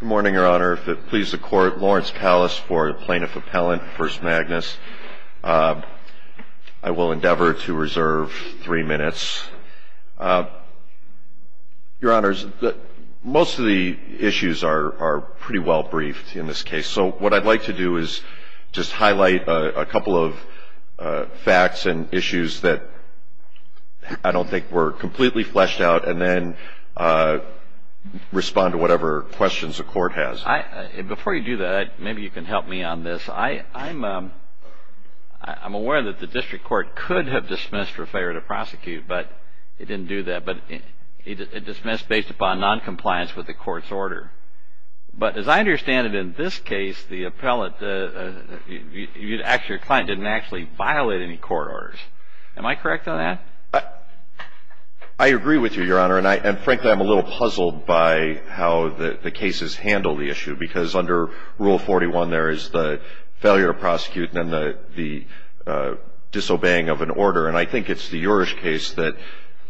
Good morning, Your Honor. If it pleases the Court, Lawrence Pallas for the Plaintiff Appellant v. Magnus. I will endeavor to reserve three minutes. Your Honors, most of the issues are pretty well briefed in this case, so what I'd like to do is just highlight a couple of facts and issues that I don't think were completely fleshed out and then respond to whatever questions the Court has. Before you do that, maybe you can help me on this. I'm aware that the District Court could have dismissed for failure to prosecute, but it didn't do that. It dismissed based upon noncompliance with the Court's order. But as I understand it, in this case, the client didn't actually violate any court orders. Am I correct on that? I agree with you, Your Honor, and frankly, I'm a little puzzled by how the cases handle the issue, because under Rule 41, there is the failure of prosecuting and the disobeying of an order. And I think it's the Urish case that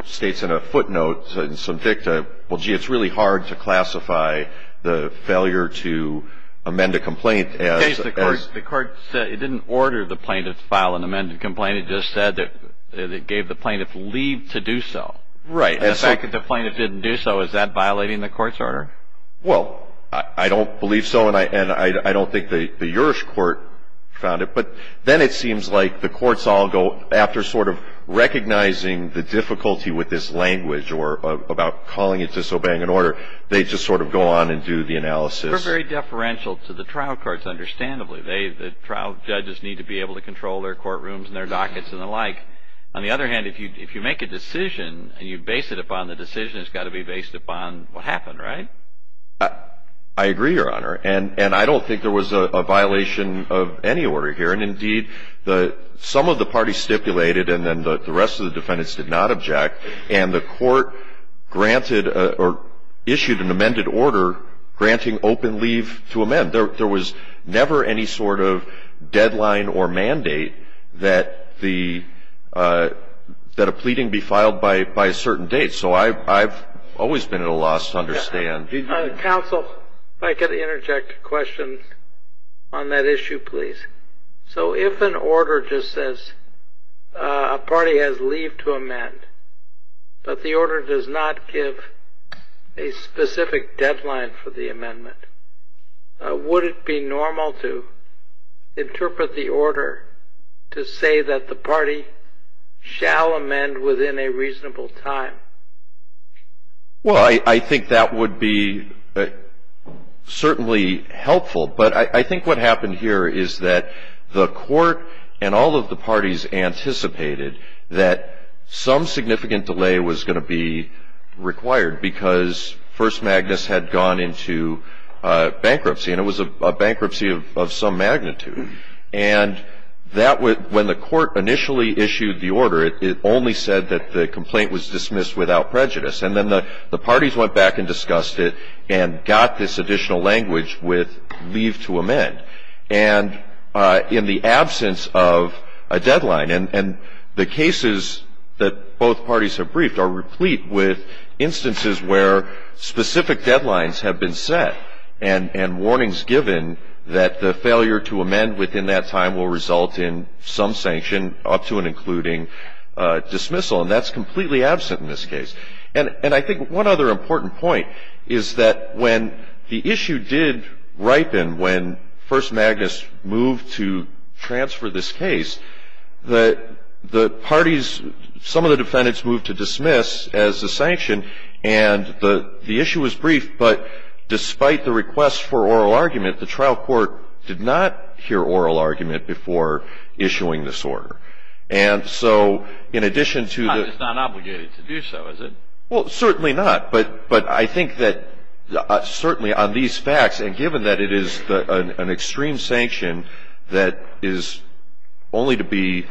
states in a footnote, in some dicta, well, gee, it's really hard to classify the failure to amend a complaint as — In this case, the Court said it didn't order the plaintiff to file an amended complaint. The plaintiff just said that it gave the plaintiff leave to do so. Right. And the fact that the plaintiff didn't do so, is that violating the Court's order? Well, I don't believe so, and I don't think the Urish court found it. But then it seems like the courts all go, after sort of recognizing the difficulty with this language or about calling it disobeying an order, they just sort of go on and do the analysis. They're very deferential to the trial courts, understandably. The trial judges need to be able to control their courtrooms and their dockets and the like. On the other hand, if you make a decision and you base it upon the decision, it's got to be based upon what happened, right? I agree, Your Honor. And I don't think there was a violation of any order here. And indeed, some of the parties stipulated and then the rest of the defendants did not object. And the Court granted or issued an amended order granting open leave to amend. There was never any sort of deadline or mandate that a pleading be filed by a certain date. So I've always been at a loss to understand. Counsel, if I could interject a question on that issue, please. So if an order just says a party has leave to amend, but the order does not give a specific deadline for the amendment, would it be normal to interpret the order to say that the party shall amend within a reasonable time? Well, I think that would be certainly helpful. But I think what happened here is that the Court and all of the parties anticipated that some significant delay was going to be And it was a bankruptcy of some magnitude. And when the Court initially issued the order, it only said that the complaint was dismissed without prejudice. And then the parties went back and discussed it and got this additional language with leave to amend. And in the absence of a deadline, and the cases that both parties have briefed are replete with instances where specific deadlines have been set and warnings given that the failure to amend within that time will result in some sanction, up to and including dismissal. And that's completely absent in this case. And I think one other important point is that when the issue did ripen when First Magnus moved to transfer this case, that the parties, some of the defendants moved to dismiss as a sanction. And the issue was brief, but despite the request for oral argument, the trial court did not hear oral argument before issuing this order. And so in addition to the It's not obligated to do so, is it? Well, certainly not. But I think that certainly on these facts, and given that it is an extreme sanction that is only to be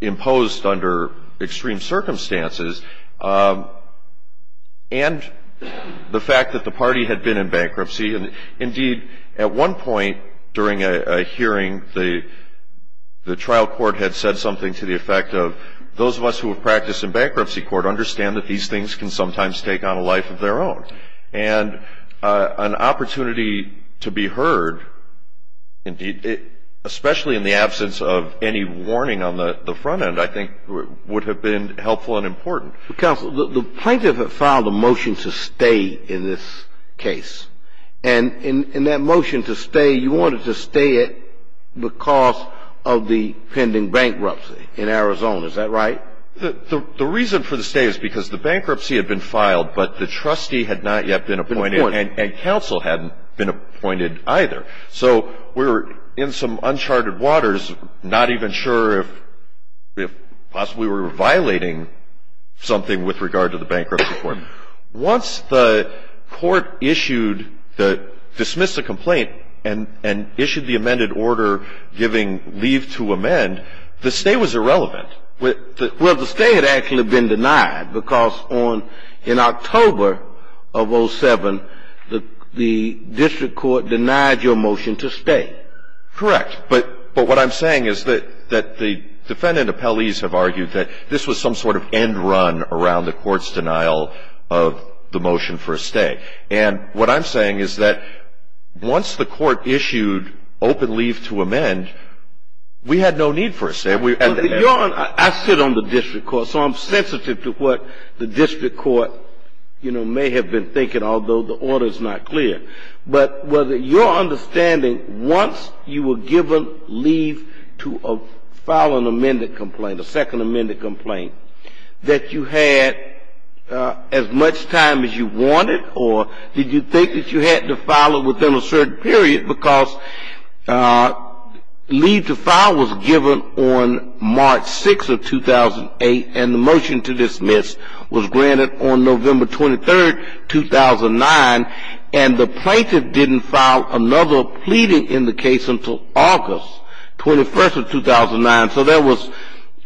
imposed under extreme circumstances, and the fact that the party had been in bankruptcy. Indeed, at one point during a hearing, the trial court had said something to the effect of, those of us who have practiced in bankruptcy court understand that these things can sometimes take on a life of their own. And an opportunity to be heard, especially in the absence of any warning on the front end, I think would have been helpful and important. Counsel, the plaintiff had filed a motion to stay in this case. And in that motion to stay, you wanted to stay it because of the pending bankruptcy in Arizona. Is that right? The reason for the stay is because the bankruptcy had been filed, but the trustee had not yet been appointed. And counsel hadn't been appointed either. So we were in some uncharted waters, not even sure if possibly we were violating something with regard to the bankruptcy court. Once the court issued the — dismissed the complaint and issued the amended order giving leave to amend, the stay was irrelevant. Well, the stay had actually been denied because in October of 07, the district court denied your motion to stay. Correct. But what I'm saying is that the defendant appellees have argued that this was some sort of end run around the court's denial of the motion for a stay. And what I'm saying is that once the court issued open leave to amend, we had no need for a stay. I sit on the district court, so I'm sensitive to what the district court, you know, may have been thinking, although the order is not clear. But was it your understanding once you were given leave to file an amended complaint, a second amended complaint, that you had as much time as you wanted, or did you think that you had to file it within a certain period because leave to file was granted on March 6 of 2008 and the motion to dismiss was granted on November 23, 2009, and the plaintiff didn't file another pleading in the case until August 21 of 2009. So that was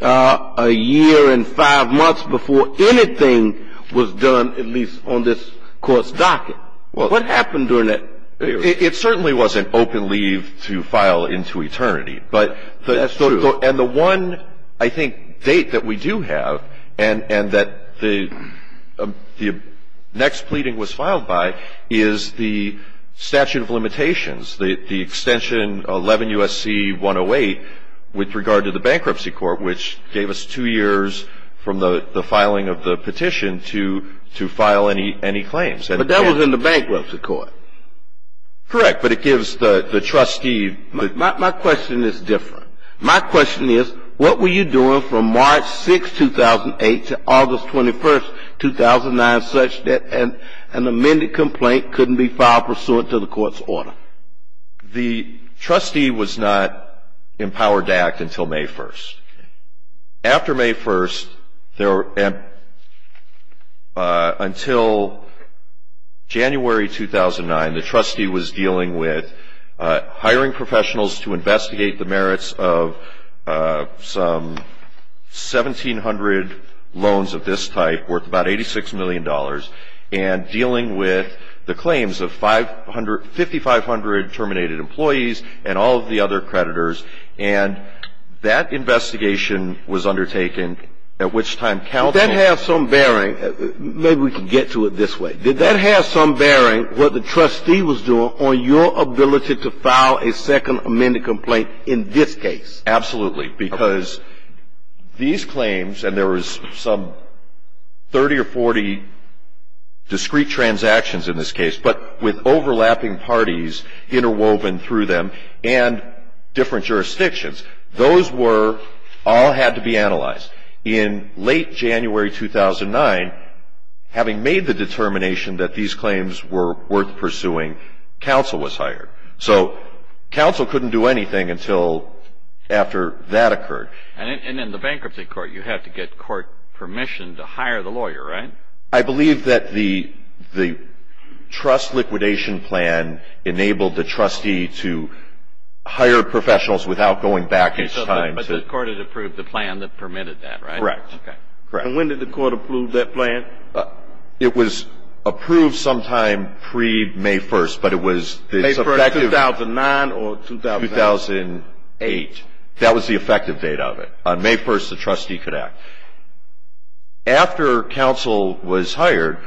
a year and five months before anything was done, at least on this court's docket. What happened during that period? It certainly wasn't open leave to file into eternity. That's true. And the one, I think, date that we do have and that the next pleading was filed by is the statute of limitations, the extension 11 U.S.C. 108 with regard to the bankruptcy court, which gave us two years from the filing of the petition to file any claims. But that was in the bankruptcy court. But it gives the trustee the ---- My question is different. My question is, what were you doing from March 6, 2008, to August 21, 2009, such that an amended complaint couldn't be filed pursuant to the court's order? The trustee was not empowered to act until May 1. After May 1, until January 2009, the trustee was dealing with hiring professionals to investigate the merits of some 1,700 loans of this type worth about $86 million and dealing with the claims of 5,500 terminated employees and all of the other creditors. And that investigation was undertaken, at which time counsel ---- Did that have some bearing? Maybe we can get to it this way. Did that have some bearing, what the trustee was doing, on your ability to file a second amended complaint in this case? Absolutely. Because these claims, and there was some 30 or 40 discrete transactions in this case, but with overlapping parties interwoven through them and different jurisdictions. Those were all had to be analyzed. In late January 2009, having made the determination that these claims were worth pursuing, counsel was hired. So counsel couldn't do anything until after that occurred. And in the bankruptcy court, you had to get court permission to hire the lawyer, right? I believe that the trust liquidation plan enabled the trustee to hire professionals without going back in time to ---- But the court had approved the plan that permitted that, right? Correct. And when did the court approve that plan? It was approved sometime pre-May 1st, but it was effective ---- May 1st, 2009 or 2008? 2008. That was the effective date of it. On May 1st, the trustee could act. After counsel was hired,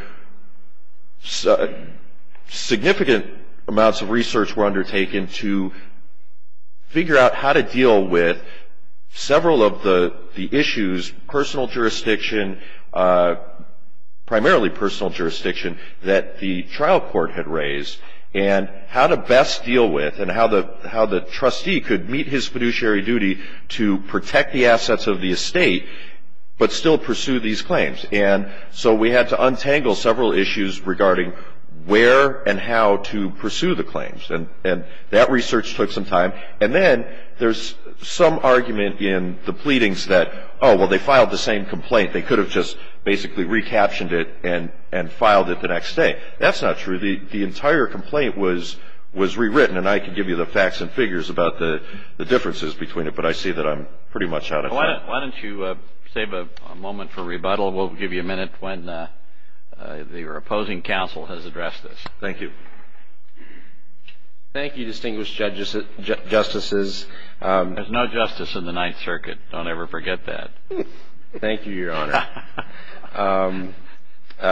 significant amounts of research were undertaken to figure out how to deal with several of the issues, personal jurisdiction, primarily personal jurisdiction, that the trial court had raised, and how to best deal with and how the trustee could meet his fiduciary duty to protect the assets of the estate but still pursue these claims. And so we had to untangle several issues regarding where and how to pursue the claims. And that research took some time. And then there's some argument in the pleadings that, oh, well, they filed the same complaint. They could have just basically recaptioned it and filed it the next day. That's not true. The entire complaint was rewritten, and I could give you the facts and figures about the differences between it, but I see that I'm pretty much out of time. Why don't you save a moment for rebuttal? We'll give you a minute when your opposing counsel has addressed this. Thank you. Thank you, distinguished judges, justices. There's no justice in the Ninth Circuit. Don't ever forget that. Thank you, Your Honor.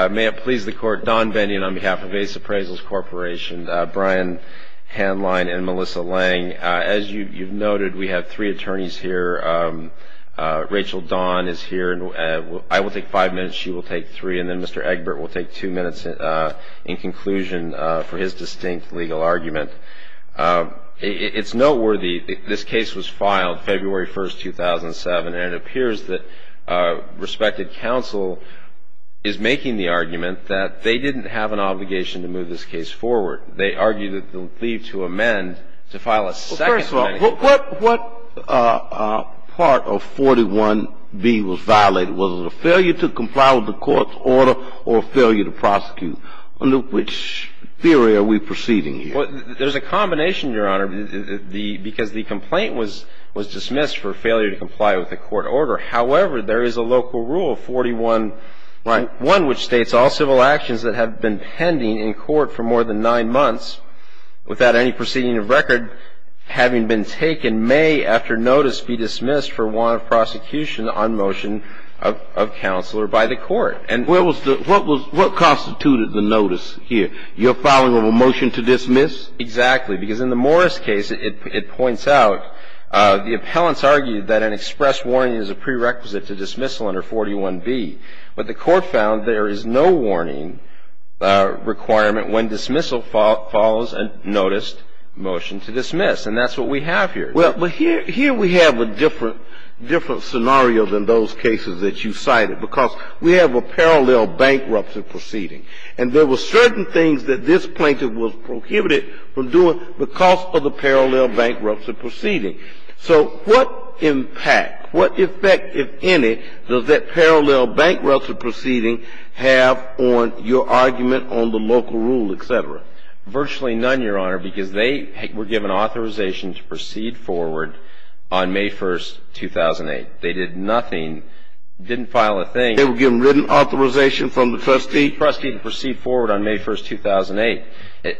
May it please the Court. Don Bennion on behalf of Ace Appraisals Corporation. Brian Hanline and Melissa Lang. As you've noted, we have three attorneys here. Rachel Dawn is here. I will take five minutes, she will take three, and then Mr. Egbert will take two minutes in conclusion for his distinct legal argument. It's noteworthy, this case was filed February 1, 2007, and it appears that respected counsel is making the argument that they didn't have an obligation to move this case forward. They argued that they would leave to amend to file a second amendment. Well, first of all, what part of 41B was violated? Was it a failure to comply with the court's order or a failure to prosecute? In which theory are we proceeding here? Well, there's a combination, Your Honor, because the complaint was dismissed for failure to comply with the court order. However, there is a local rule, 41-1, which states all civil actions that have been pending in court for more than nine months without any proceeding of record having been taken may, after notice, be dismissed for want of prosecution on motion of counsel or by the court. What constituted the notice here? You're filing a motion to dismiss? Exactly. Because in the Morris case, it points out the appellants argued that an express warning is a prerequisite to dismissal under 41B. But the court found there is no warning requirement when dismissal follows a noticed motion to dismiss. And that's what we have here. Well, here we have a different scenario than those cases that you cited, because we have a parallel bankruptcy proceeding. And there were certain things that this plaintiff was prohibited from doing because of the parallel bankruptcy proceeding. So what impact, what effect, if any, does that parallel bankruptcy proceeding have on your argument on the local rule, et cetera? Virtually none, Your Honor, because they were given authorization to proceed forward on May 1, 2008. They did nothing, didn't file a thing. They were given written authorization from the trustee? The trustee to proceed forward on May 1, 2008.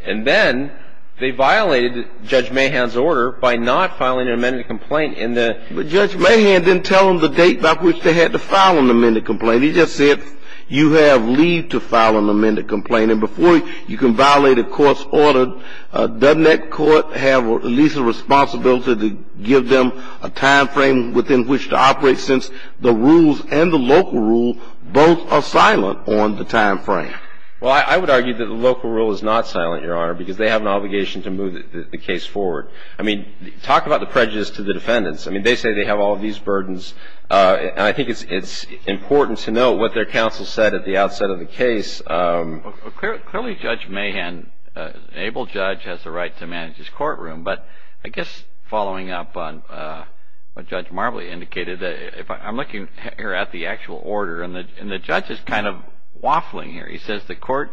And then they violated Judge Mahan's order by not filing an amended complaint in the ---- But Judge Mahan didn't tell them the date by which they had to file an amended complaint. He just said you have leave to file an amended complaint. And before you can violate a court's order, doesn't that court have at least a responsibility to give them a timeframe within which to operate since the rules and the local rule both are silent on the timeframe? Well, I would argue that the local rule is not silent, Your Honor, because they have an obligation to move the case forward. I mean, talk about the prejudice to the defendants. I mean, they say they have all these burdens. And I think it's important to note what their counsel said at the outset of the case. Clearly, Judge Mahan, an able judge, has the right to manage his courtroom. But I guess following up on what Judge Marbley indicated, I'm looking here at the actual order. And the judge is kind of waffling here. He says the court's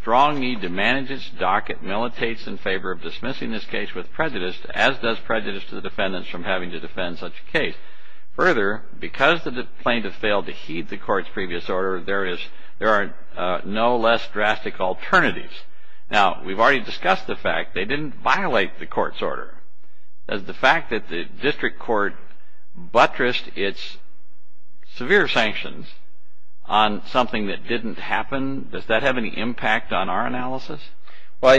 strong need to manage its docket militates in favor of dismissing this case with prejudice, as does prejudice to the defendants from having to defend such a case. Further, because the plaintiff failed to heed the court's previous order, there are no less drastic alternatives. Now, we've already discussed the fact they didn't violate the court's order. Does the fact that the district court buttressed its severe sanctions on something that didn't happen, does that have any impact on our analysis? Well,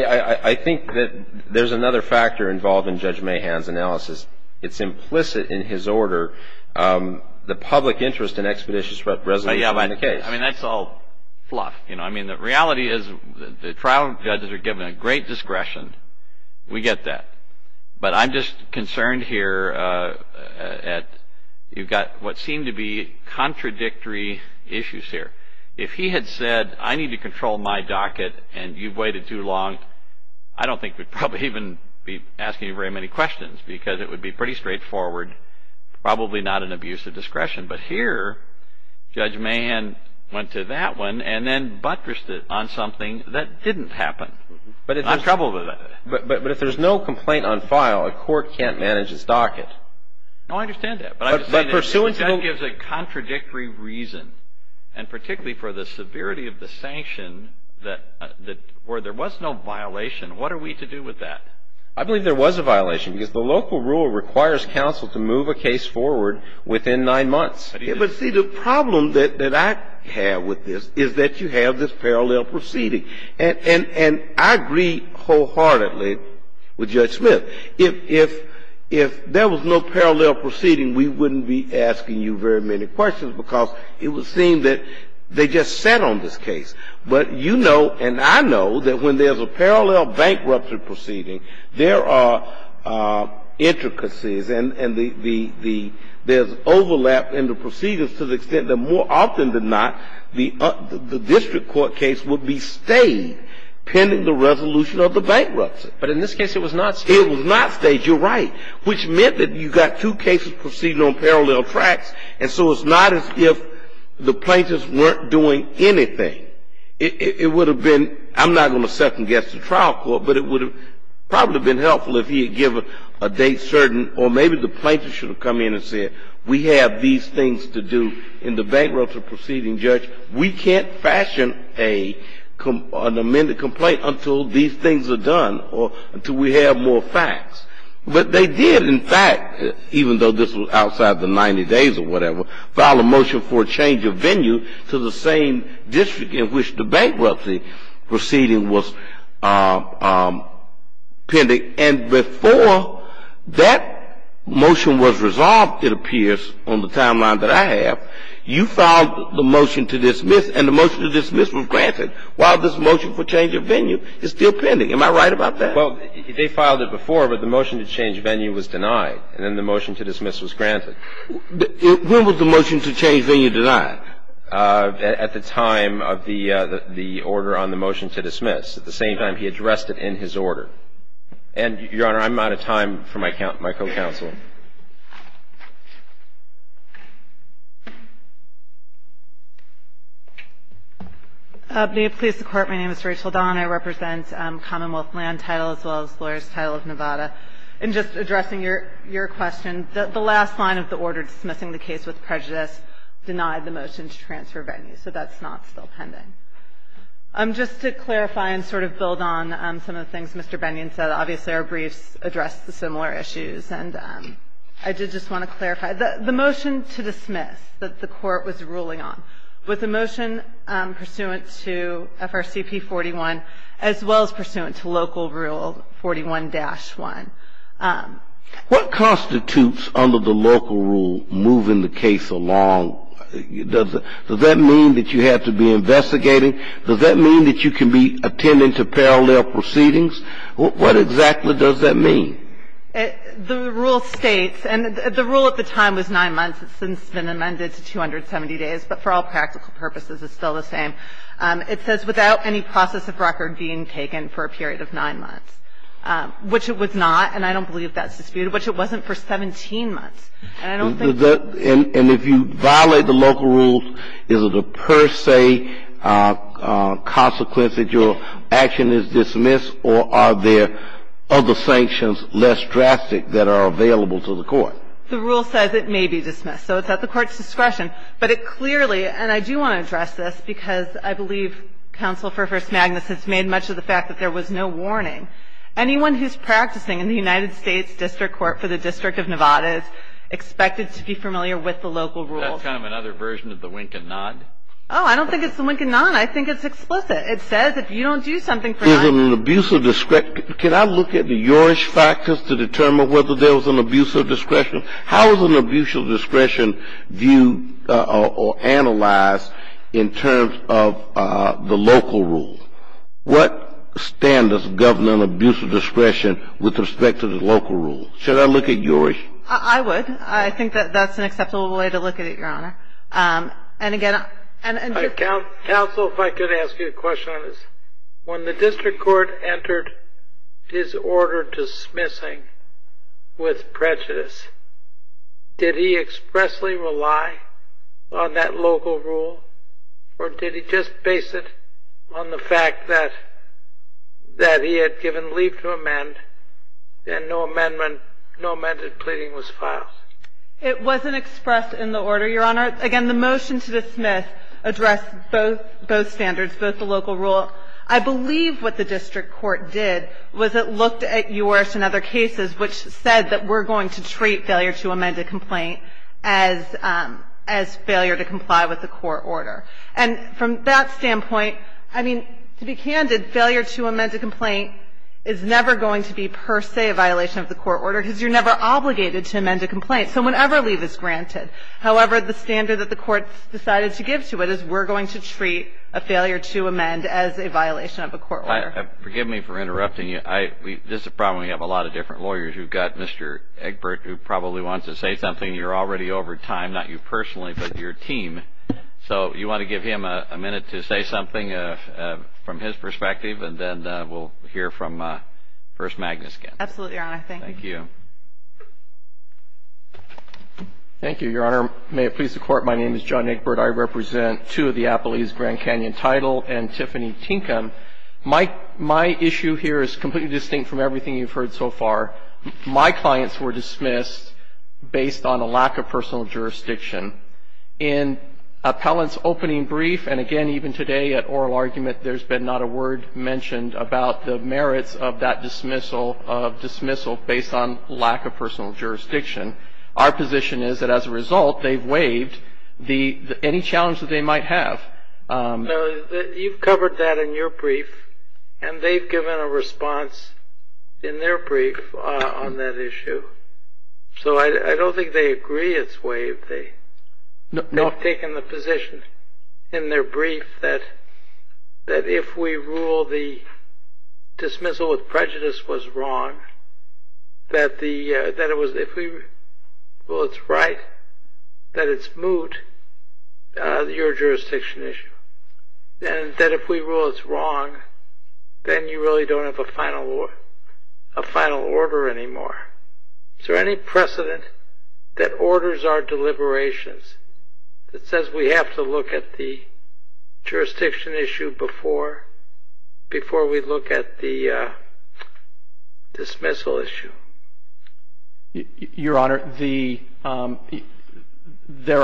I think that there's another factor involved in Judge Mahan's analysis. It's implicit in his order, the public interest in expeditious resolution of the case. I mean, that's all fluff. I mean, the reality is the trial judges are given a great discretion. We get that. But I'm just concerned here at you've got what seem to be contradictory issues here. If he had said, I need to control my docket and you've waited too long, I don't think we'd probably even be asking you very many questions because it would be pretty straightforward, probably not an abuse of discretion. But here, Judge Mahan went to that one and then buttressed it on something that didn't happen. I'm troubled with that. But if there's no complaint on file, a court can't manage its docket. No, I understand that. But I'm just saying that that gives a contradictory reason. And particularly for the severity of the sanction where there was no violation, what are we to do with that? I believe there was a violation because the local rule requires counsel to move a case forward within nine months. But, see, the problem that I have with this is that you have this parallel proceeding. And I agree wholeheartedly with Judge Smith. If there was no parallel proceeding, we wouldn't be asking you very many questions because it would seem that they just sat on this case. But you know and I know that when there's a parallel bankruptcy proceeding, there are intricacies and there's overlap in the proceedings to the extent that more often than not, the district court case would be stayed pending the resolution of the bankruptcy. But in this case, it was not stayed. It was not stayed. You're right. Which meant that you got two cases proceeding on parallel tracks, and so it's not as if the plaintiffs weren't doing anything. It would have been — I'm not going to second-guess the trial court, but it would have probably been helpful if he had given a date certain, or maybe the plaintiffs should have come in and said, we have these things to do in the bankruptcy proceeding, Judge. We can't fashion an amended complaint until these things are done, or until we have more facts. But they did, in fact, even though this was outside the 90 days or whatever, file a motion for a change of venue to the same district in which the bankruptcy proceeding was pending. And before that motion was resolved, it appears on the timeline that I have, you filed the motion to dismiss, and the motion to dismiss was granted while this motion for change of venue is still pending. Am I right about that? Well, they filed it before, but the motion to change venue was denied, and then the motion to dismiss was granted. When was the motion to change venue denied? At the time of the order on the motion to dismiss. At the same time, he addressed it in his order. And, Your Honor, I'm out of time for my co-counsel. May it please the Court. My name is Rachel Don. I represent Commonwealth Land Title as well as Lawyer's Title of Nevada. In just addressing your question, the last line of the order dismissing the case with prejudice denied the motion to transfer venue, so that's not still pending. Just to clarify and sort of build on some of the things Mr. Bennion said, obviously our briefs address the similar issues. And I did just want to clarify, the motion to dismiss that the Court was ruling on, with the motion pursuant to FRCP 41 as well as pursuant to local rule 41-1. What constitutes under the local rule moving the case along? Does that mean that you have to be investigating? Does that mean that you can be attending to parallel proceedings? What exactly does that mean? The rule states, and the rule at the time was nine months. It's since been amended to 270 days. But for all practical purposes, it's still the same. It says without any process of record being taken for a period of nine months, which it was not. And I don't believe that's disputed, which it wasn't for 17 months. And I don't think that's disputed. And if you violate the local rules, is it a per se consequence that your action is dismissed, or are there other sanctions less drastic that are available to the Court? The rule says it may be dismissed. So it's at the Court's discretion. But it clearly, and I do want to address this because I believe Counsel for First Magnus has made much of the fact that there was no warning. Anyone who's practicing in the United States District Court for the District of Nevada is expected to be familiar with the local rules. That's kind of another version of the wink and nod. Oh, I don't think it's the wink and nod. I think it's explicit. It says if you don't do something for nine months. Is it an abuse of discretion? Can I look at the JORISH factors to determine whether there was an abuse of discretion? How is an abuse of discretion viewed or analyzed in terms of the local rule? What standards govern an abuse of discretion with respect to the local rule? Should I look at JORISH? I would. I think that that's an acceptable way to look at it, Your Honor. Counsel, if I could ask you a question on this. When the district court entered his order dismissing with prejudice, did he expressly rely on that local rule or did he just base it on the fact that he had given leave to amend and no amended pleading was filed? It wasn't expressed in the order, Your Honor. Again, the motion to dismiss addressed both standards, both the local rule. I believe what the district court did was it looked at JORISH and other cases which said that we're going to treat failure to amend a complaint as failure to comply with the court order. And from that standpoint, I mean, to be candid, failure to amend a complaint is never going to be per se a violation of the court order because you're never obligated to amend a complaint. So whenever leave is granted. However, the standard that the courts decided to give to it is we're going to treat a failure to amend as a violation of a court order. Forgive me for interrupting you. This is a problem. We have a lot of different lawyers. We've got Mr. Egbert who probably wants to say something. You're already over time, not you personally, but your team. So you want to give him a minute to say something from his perspective and then we'll hear from First Magnus again. Absolutely, Your Honor. Thank you. Thank you, Your Honor. May it please the Court, my name is John Egbert. I represent two of the Appalachian Grand Canyon Title and Tiffany Tinkham. My issue here is completely distinct from everything you've heard so far. My clients were dismissed based on a lack of personal jurisdiction. In Appellant's opening brief, and again, even today at oral argument, there's been not a word mentioned about the merits of that dismissal based on lack of personal jurisdiction. Our position is that as a result, they've waived any challenge that they might have. You've covered that in your brief, and they've given a response in their brief on that issue. So I don't think they agree it's waived. No. They've taken the position in their brief that if we rule the dismissal with prejudice was wrong, that if we rule it's right, that it's moot, you're a jurisdiction issue. And that if we rule it's wrong, then you really don't have a final order anymore. Is there any precedent that orders our deliberations that says we have to look at the jurisdiction issue before we look at the dismissal issue? Your Honor, there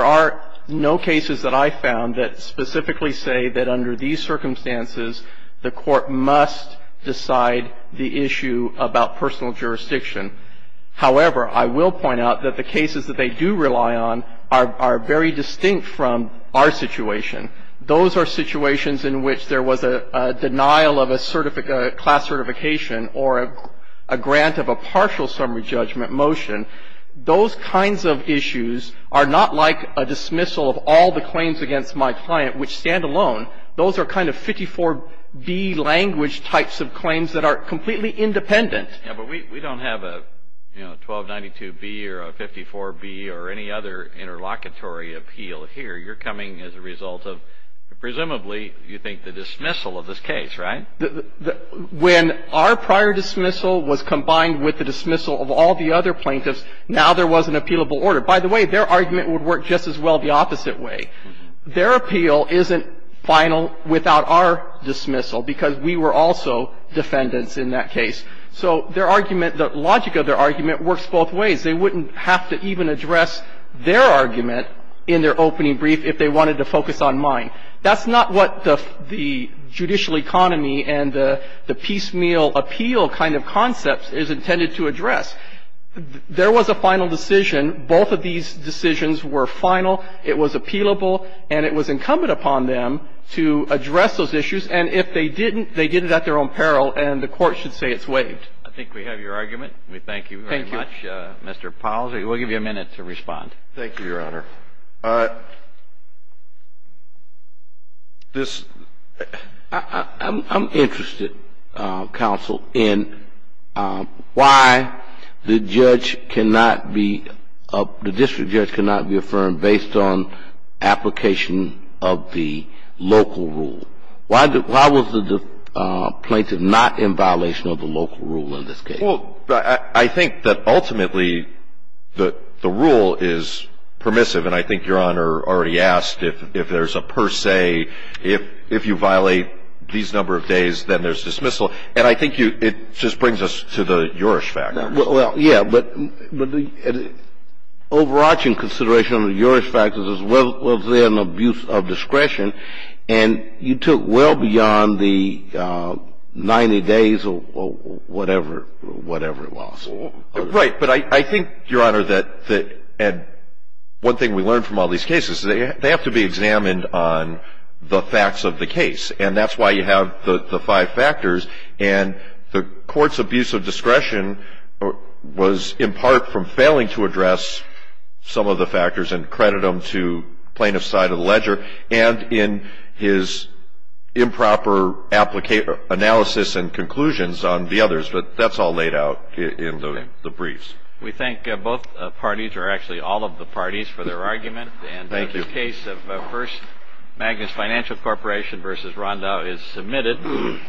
are no cases that I found that specifically say that under these circumstances, the Court must decide the issue about personal jurisdiction. However, I will point out that the cases that they do rely on are very distinct from our situation. Those are situations in which there was a denial of a class certification or a grant of a partial summary judgment motion. Those kinds of issues are not like a dismissal of all the claims against my client, which stand alone. Those are kind of 54B language types of claims that are completely independent. Yeah, but we don't have a 1292B or a 54B or any other interlocutory appeal here. You're coming as a result of presumably, you think, the dismissal of this case, right? When our prior dismissal was combined with the dismissal of all the other plaintiffs, now there was an appealable order. By the way, their argument would work just as well the opposite way. Their appeal isn't final without our dismissal because we were also defendants in that case. So their argument, the logic of their argument works both ways. They wouldn't have to even address their argument in their opening brief if they wanted to focus on mine. That's not what the judicial economy and the piecemeal appeal kind of concept is intended to address. There was a final decision. Both of these decisions were final. It was appealable. And it was incumbent upon them to address those issues. And if they didn't, they did it at their own peril, and the Court should say it's waived. I think we have your argument. We thank you very much, Mr. Powell. We'll give you a minute to respond. Thank you, Your Honor. I'm interested, counsel, in why the judge cannot be, the district judge cannot be affirmed based on application of the local rule. Why was the plaintiff not in violation of the local rule in this case? Well, I think that ultimately the rule is permissive. And I think Your Honor already asked if there's a per se, if you violate these number of days, then there's dismissal. And I think it just brings us to the Jurisch fact. Well, yeah. But overarching consideration of the Jurisch fact is there's an abuse of discretion. And you took well beyond the 90 days or whatever it was. Right. But I think, Your Honor, that one thing we learned from all these cases is they have to be examined on the facts of the case. And that's why you have the five factors. And the court's abuse of discretion was in part from failing to address some of the factors and credit them to plaintiff's side of the ledger and in his improper analysis and conclusions on the others. But that's all laid out in the briefs. We thank both parties, or actually all of the parties, for their argument. Thank you. The case of First Magnus Financial Corporation v. Rondau is submitted.